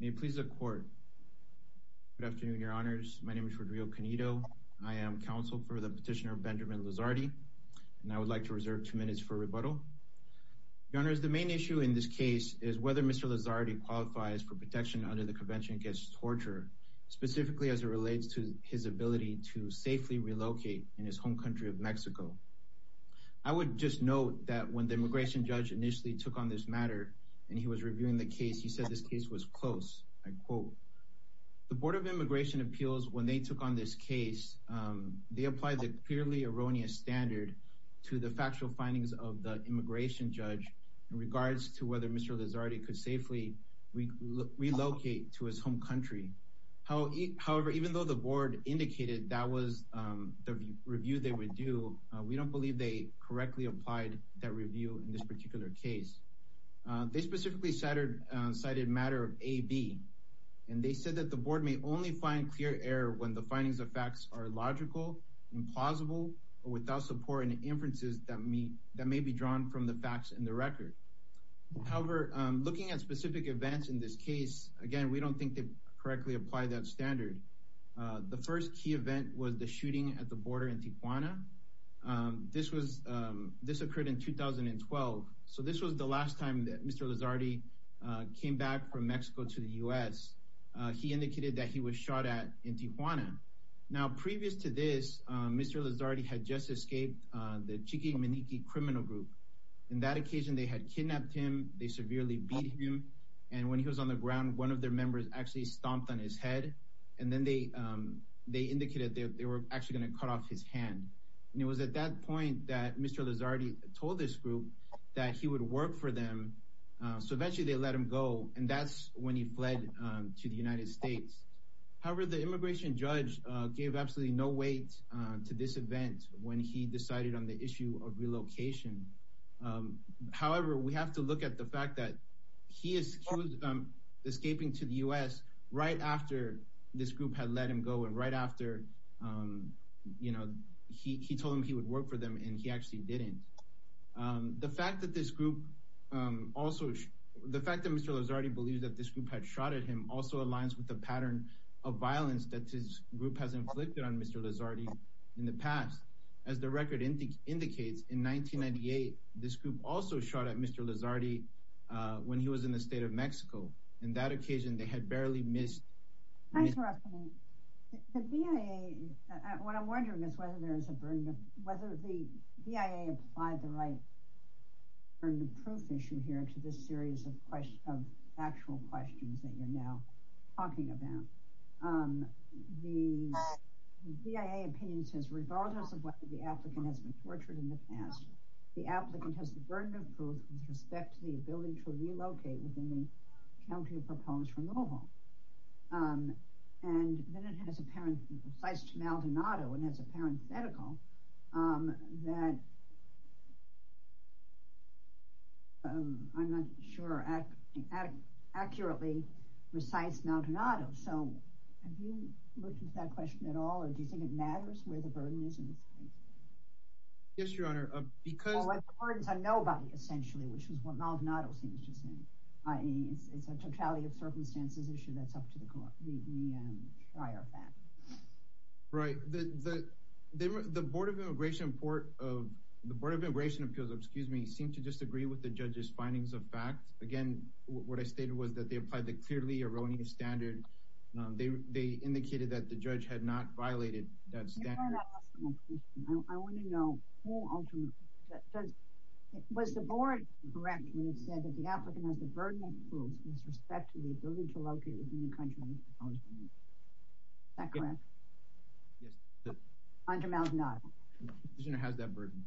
May it please the court. Good afternoon, your honors. My name is Rodrigo Canedo. I am counsel for the petitioner Benjamin Lizardi and I would like to reserve two minutes for rebuttal. Your honors, the main issue in this case is whether Mr. Lizardi qualifies for protection under the Convention Against Torture, specifically as it relates to his ability to safely relocate in his home country of Mexico. I would just note that when the immigration judge initially took on this matter and he was reviewing the case, he said this case was close. I quote, the Board of Immigration Appeals, when they took on this case, they applied the clearly erroneous standard to the factual findings of the immigration judge in regards to whether Mr. Lizardi could safely relocate to his home country. However, even though the board indicated that was the review they would do, we don't believe they correctly applied that review in this particular case. They specifically cited matter of AB and they said that the board may only find clear error when the findings of facts are illogical, implausible, or without support and inferences that may be drawn from the facts in the record. However, looking at specific events in this case, again, we don't think they correctly apply that standard. The first key event was the shooting at the border in Tijuana. This occurred in 2012, so this was the last time that Mr. Lizardi came back from Mexico to the U.S. He indicated that he was shot at in Tijuana. Now, previous to this, Mr. Lizardi had just escaped the Chiqui Manique criminal group. In that occasion, they had kidnapped him, they severely beat him, and when he was on the ground, one of their members actually cut off his hand. It was at that point that Mr. Lizardi told this group that he would work for them, so eventually they let him go, and that's when he fled to the United States. However, the immigration judge gave absolutely no weight to this event when he decided on the issue of relocation. However, we have to look at the fact that he escaped to the U.S. right after this group had him go, and right after, you know, he told him he would work for them, and he actually didn't. The fact that this group also, the fact that Mr. Lizardi believes that this group had shot at him also aligns with the pattern of violence that his group has inflicted on Mr. Lizardi in the past. As the record indicates, in 1998, this group also shot at Mr. Lizardi when he was in the state of The BIA, what I'm wondering is whether there is a burden of, whether the BIA applied the right burden of proof issue here to this series of questions, of actual questions that you're now talking about. The BIA opinion says, regardless of whether the applicant has been tortured in the past, the applicant has the burden of proof with respect to the ability to relocate within county of proposed removal. And then it has apparent, recites Maldonado, and has a parenthetical that, I'm not sure, accurately recites Maldonado, so have you looked into that question at all, or do you think it matters where the burden is in this case? Yes, your honor, because... It's a totality of circumstances issue that's up to the trial of that. Right, the Board of Immigration Appeals, excuse me, seem to disagree with the judge's findings of fact. Again, what I stated was that they applied the clearly erroneous standard. They indicated that the judge had not violated that standard. Your honor, I want to know, was the board correct when it said that the applicant has burden of proof with respect to the ability to relocate within the county of proposed removal? Is that correct? Yes, the petitioner has that burden.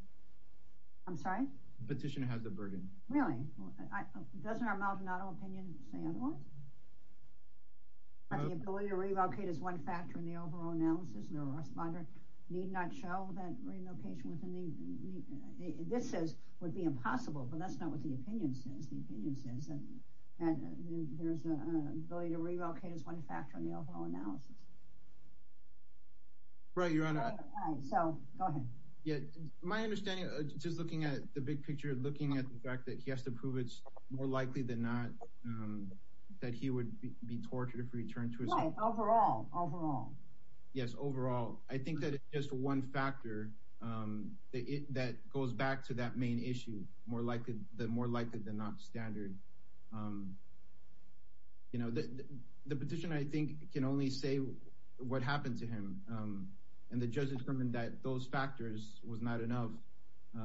I'm sorry? The petitioner has the burden. Really? Doesn't our Maldonado opinion say otherwise? But the ability to relocate is one factor in the overall analysis, and the responder need not show that relocation within the... This says would be impossible, but that's not what the opinion says. The opinion says that there's an ability to relocate is one factor in the overall analysis. Right, your honor. All right, so go ahead. Yeah, my understanding, just looking at the big picture, looking at the fact that he has to prove it's more likely than not that he would be tortured if returned to his home. Right, overall, overall. Yes, overall. I think that it's just one factor that goes back to that main issue, more likely than not standard. The petitioner, I think, can only say what happened to him, and the judge determined that those factors was not enough.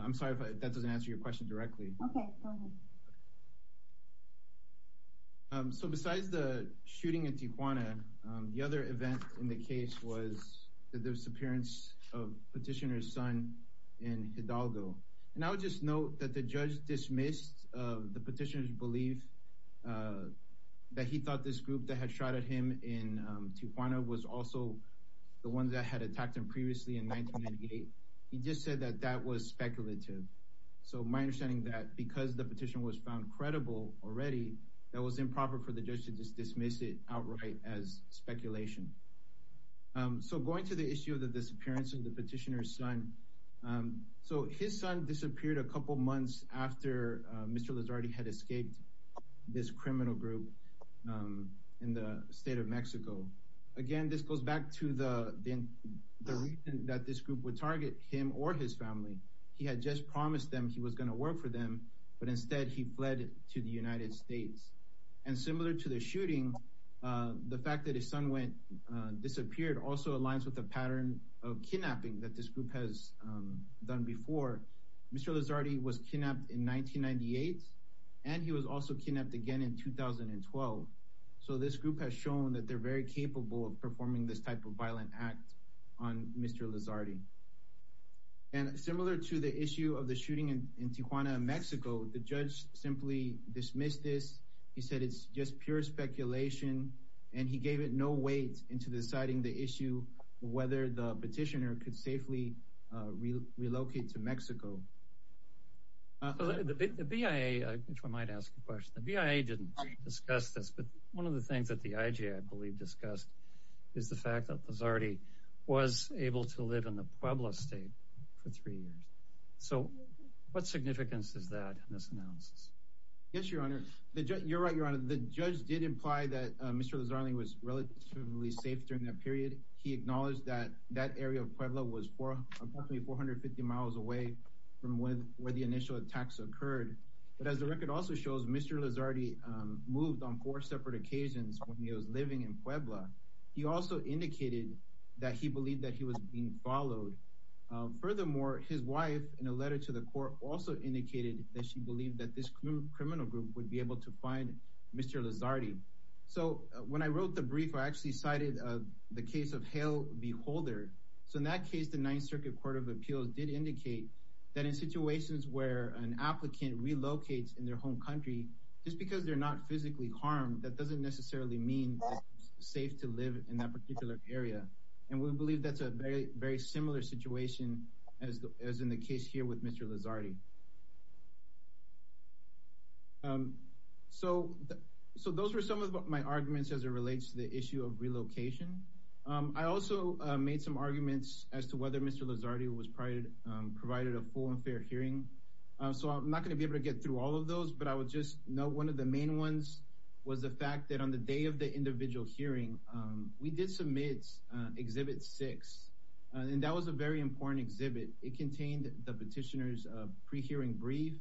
I'm sorry if that doesn't answer your question directly. Okay, go ahead. Okay, so besides the shooting in Tijuana, the other event in the case was the disappearance of petitioner's son in Hidalgo. And I would just note that the judge dismissed the petitioner's belief that he thought this group that had shot at him in Tijuana was also the ones that had attacked him previously in 1998. He just said that that was speculative. So my understanding that because the petition was found credible already, that was improper for the judge to just dismiss it outright as speculation. So going to the issue of the disappearance of the petitioner's son, so his son disappeared a couple months after Mr. Lizardi had escaped this criminal group in the state of Mexico. Again, this goes back to the reason that this group would target him or his family. He had just promised them he was going to work for them, but instead he fled to the United States. And similar to the shooting, the fact that his son went disappeared also aligns with the pattern of kidnapping that this group has done before. Mr. Lizardi was kidnapped in 1998, and he was also kidnapped again in 2012. So this group has shown that they're very capable of performing this type of violent act on Mr. Lizardi. And similar to the issue of the shooting in Tijuana, Mexico, the judge simply dismissed this. He said it's just pure speculation, and he gave it no weight into deciding the issue of whether the petitioner could safely relocate to Mexico. The BIA, which I might ask a question, the BIA didn't discuss this. But one of the things that the IG, I believe, discussed is the fact that Lizardi was able to live in the Puebla state for three years. So what significance is that in this analysis? Yes, Your Honor. You're right, Your Honor. The judge did imply that Mr. Lizardi was relatively safe during that period. He acknowledged that that area of Puebla was approximately 450 miles away from where the initial attacks occurred. But as the record also shows, Mr. Lizardi moved on four separate occasions when he was living in Puebla. He also indicated that he believed that he was being followed. Furthermore, his wife, in a letter to the court, also indicated that she believed that this criminal group would be able to find Mr. Lizardi. So when I wrote the brief, I actually cited the case of Hale v. Holder. So in that case, the Ninth Circuit Court of Appeals did indicate that in situations where an applicant relocates in their home country, just because they're not physically harmed, that doesn't necessarily mean that it's safe to live in that particular area. And we believe that's a very similar situation as in the case here with Mr. Lizardi. So those were some of my arguments as it relates to the issue of relocation. I also made some arguments as to whether Mr. Lizardi was provided a full and fair hearing. So I'm not going to be able to get through all of those. But I would just note one of the main ones was the fact that on the day of the individual hearing, we did submit Exhibit 6. And that was a very important exhibit. It contained the petitioner's pre-hearing brief.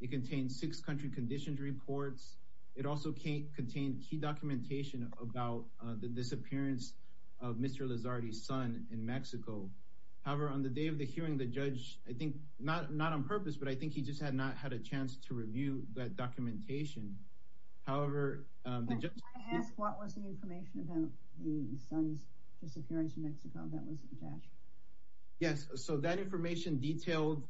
It contained six country conditions reports. It also contained key documentation about the disappearance of Mr. Lizardi's son in Mexico. However, on the day of the hearing, the judge, I think, not on purpose, but I think he just not had a chance to review that documentation. However, the judge... Can I ask what was the information about the son's disappearance in Mexico that was attached? Yes. So that information detailed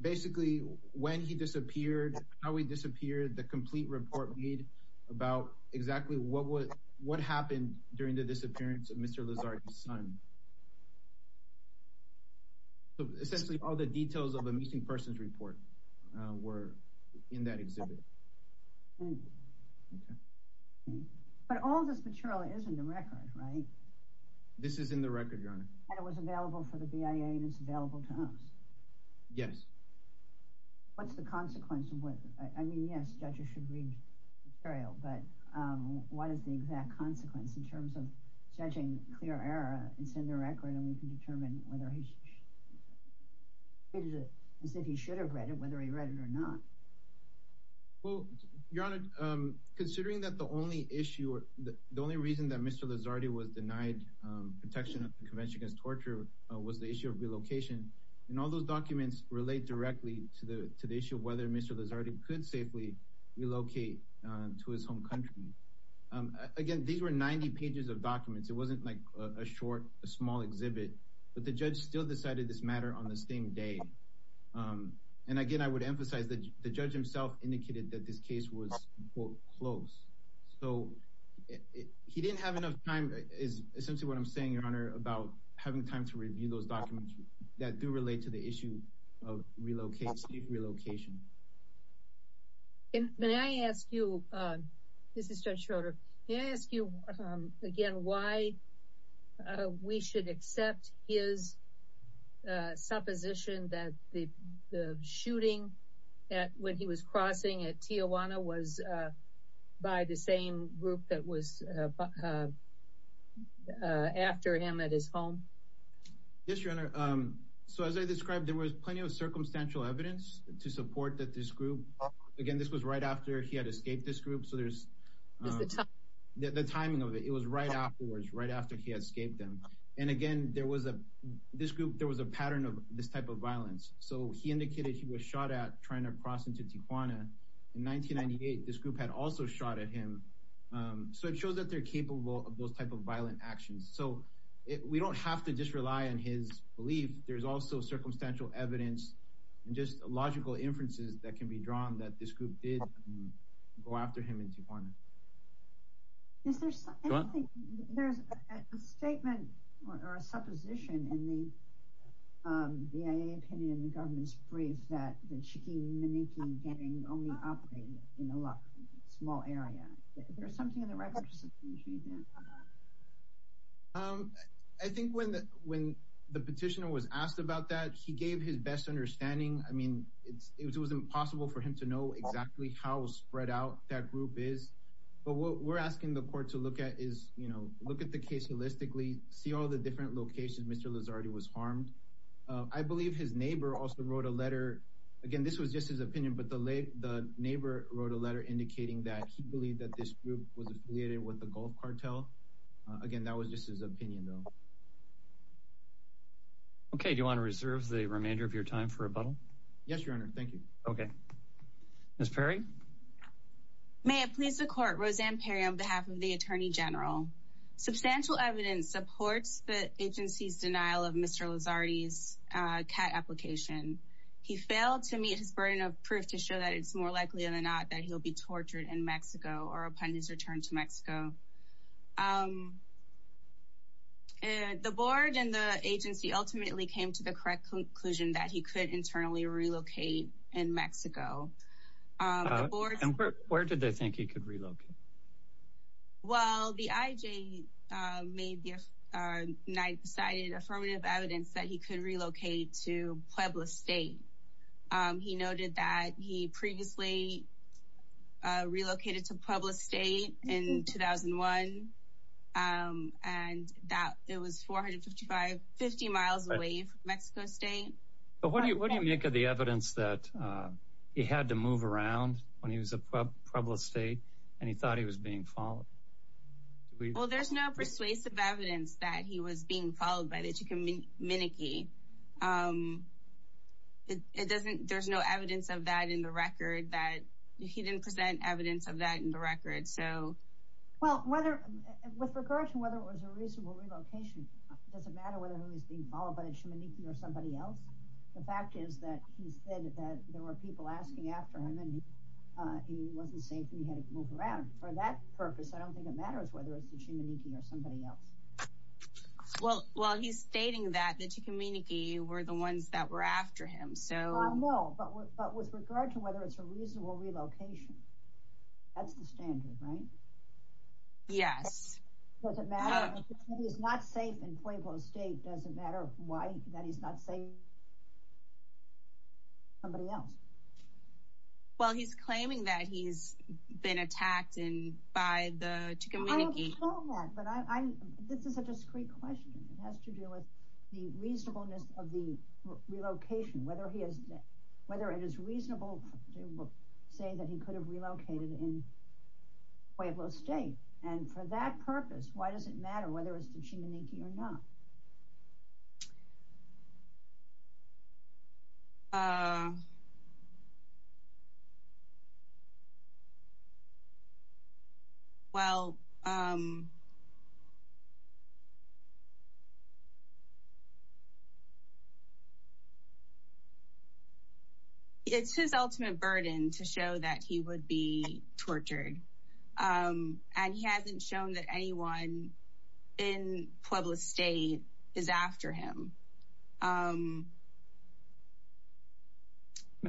basically when he disappeared, how he disappeared, the complete report made about exactly what happened during the disappearance of Mr. Lizardi's son. So essentially, all the details of a missing person's report were in that exhibit. But all of this material is in the record, right? This is in the record, Your Honor. And it was available for the BIA and it's available to us? Yes. What's the consequence of what... I mean, yes, judges should read the material, but what is the exact consequence in terms of judging clear error? It's in the record and we can determine whether he should have read it, whether he read it or not. Well, Your Honor, considering that the only issue, the only reason that Mr. Lizardi was denied protection at the Convention Against Torture was the issue of relocation. And all those documents relate directly to the issue of whether Mr. Lizardi could safely relocate to his home country. Again, these were 90 pages of documents. It wasn't like a short, a small exhibit, but the judge still decided this matter on the same day. And again, I would emphasize that the judge himself indicated that this case was, quote, close. So he didn't have enough time, is essentially what I'm saying, Your Honor, about having time to review those documents that do relate to the issue of safe relocation. And may I ask you, this is Judge Schroeder, may I ask you again why we should accept his supposition that the shooting when he was crossing at Tijuana was by the same group that was after him at his home? Yes, Your Honor. So as I described, there was plenty of circumstantial evidence to support that this group, again, this was right after he had escaped this group. So there's the timing of it. It was right afterwards, right after he escaped them. And again, there was a, this group, there was a pattern of this type of violence. So he indicated he was shot at trying to cross into Tijuana. In 1998, this group had also shot at him. So it shows that they're capable of those type of violent actions. So we don't have to just rely on his belief. There's also circumstantial evidence and just logical inferences that can be drawn that this group did go after him in Tijuana. Is there something, there's a statement or a supposition in the VA opinion, the government's brief, that the Chiki Maniki gang only operated in a small area. There's something in the records. I think when the petitioner was asked about that, he gave his best understanding. I mean, it was impossible for him to know exactly how spread out that group is. But what we're asking the court to look at is, you know, look at the case holistically, see all the different locations Mr. Lizardi was harmed. I believe his neighbor also wrote a letter. Again, this was just his opinion, but the neighbor wrote a letter indicating that he believed that this group was affiliated with the Gulf cartel. Again, that was just his opinion, though. Okay. Do you want to reserve the remainder of your time for rebuttal? Yes, your honor. Thank you. Okay. Ms. Perry. May it please the court. Roseanne Perry on behalf of the Attorney General. Substantial evidence supports the agency's denial of Mr. Lizardi's CAT application. He failed to meet his burden of proof to show that it's more likely than not that he'll be tortured in Mexico or upon his return to Mexico. And the board and the agency ultimately came to the correct conclusion that he could internally relocate in Mexico. Where did they think he could relocate? Well, the IJ made the night decided affirmative evidence that he could relocate to Puebla State. He noted that he previously relocated to Puebla State in 2001. And that it was 455, 50 miles away from Mexico State. But what do you what do you make of the evidence that he had to move around when he was in Puebla State and he thought he was being followed? Well, there's no persuasive evidence that he was being followed by the Chican Minike. It doesn't there's no evidence of that in the record that he didn't present evidence of that in the record. So, well, whether with regard to whether it was a reasonable relocation, it doesn't matter whether he's being followed by the Chimaniki or somebody else. The fact is that he said that there were people asking after him and he wasn't safe and he had to move around for that purpose. I don't think it matters whether it's the Chimaniki or somebody else. Well, he's stating that the Chican Minike were the ones that were after him. So, no, but with regard to whether it's a reasonable relocation. That's the standard, right? Yes. Does it matter that he's not safe in Puebla State? Does it matter why that he's not safe? Somebody else. Well, he's claiming that he's been attacked and by the Chican Minike. But I this is a discrete question. It has to do with the reasonableness of the relocation, whether he is whether it is reasonable to say that he could have relocated in Puebla State. And for that purpose, why does it matter whether it's the Chimaniki or not? Uh. Well. It's his ultimate burden to show that he would be tortured and he hasn't shown that anyone in Puebla State is after him. May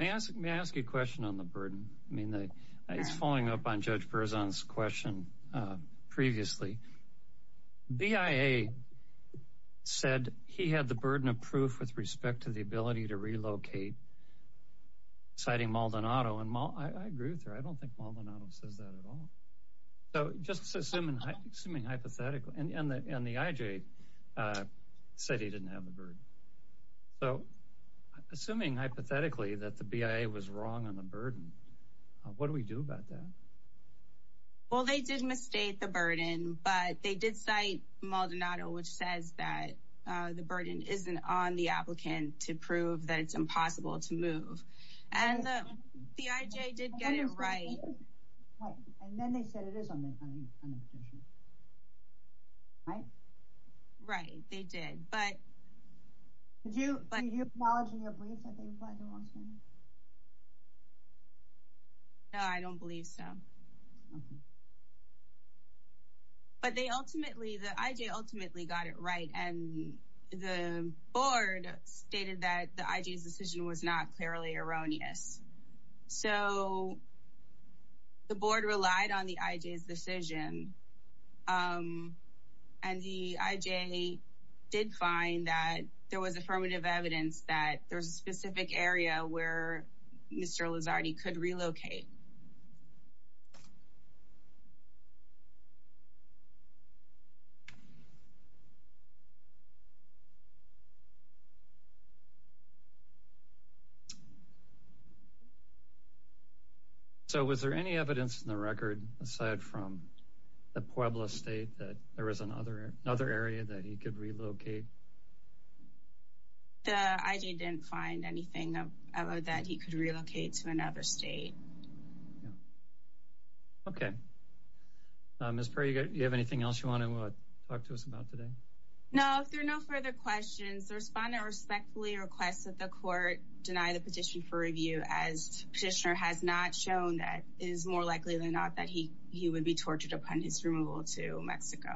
I ask you a question on the burden? I mean, it's following up on Judge Berzon's question previously. BIA said he had the burden of proof with respect to the ability to relocate. Citing Maldonado and I agree with her. I don't think Maldonado says that at all. So just assuming assuming hypothetically and the IJ said he didn't have the bird. So assuming hypothetically that the BIA was wrong on the burden, what do we do about that? Well, they did mistake the burden, but they did cite Maldonado, which says that the burden isn't on the applicant to prove that it's impossible to move. And the IJ did get it right. Right. And then they said it is on the petition. Right? Right, they did. But did you acknowledge in your brief that they applied to Washington? No, I don't believe so. But they ultimately, the IJ ultimately got it right. And the board stated that the IJ's decision was not clearly erroneous. So the board relied on the IJ's decision. And the IJ did find that there was affirmative evidence that there's a specific area where Mr. Lizardi could relocate. So was there any evidence in the record, aside from the Puebla state, that there was another another area that he could relocate? The IJ didn't find anything that he could relocate to another state. Okay. Ms. Perry, you have anything else you want to talk to us about today? No, if there are no further questions, the respondent respectfully requests that the court deny the petition for review, as petitioner has not shown that it is more likely than not that he would be tortured upon his removal to Mexico.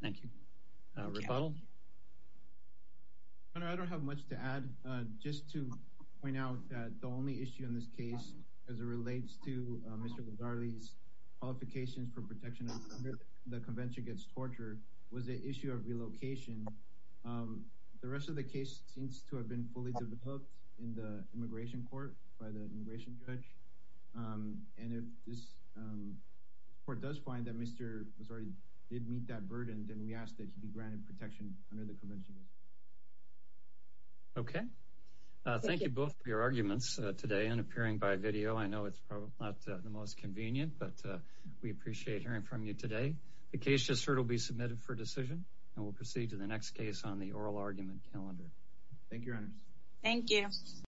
Thank you. Rebuttal? Senator, I don't have much to add. Just to point out that the only issue in this case, as it relates to Mr. Lizardi's qualifications for protection under the Convention Against Torture, was the issue of relocation. The rest of the case seems to have been fully developed in the immigration court by the immigration judge. And if this court does find that Mr. Lizardi did meet that burden, then we ask that he be granted protection under the Convention. Okay. Thank you both for your arguments today and appearing by video. I know it's probably not the most convenient, but we appreciate hearing from you today. The case just heard will be submitted for decision, and we'll proceed to the next case on the oral argument calendar. Thank you, Your Honors. Thank you.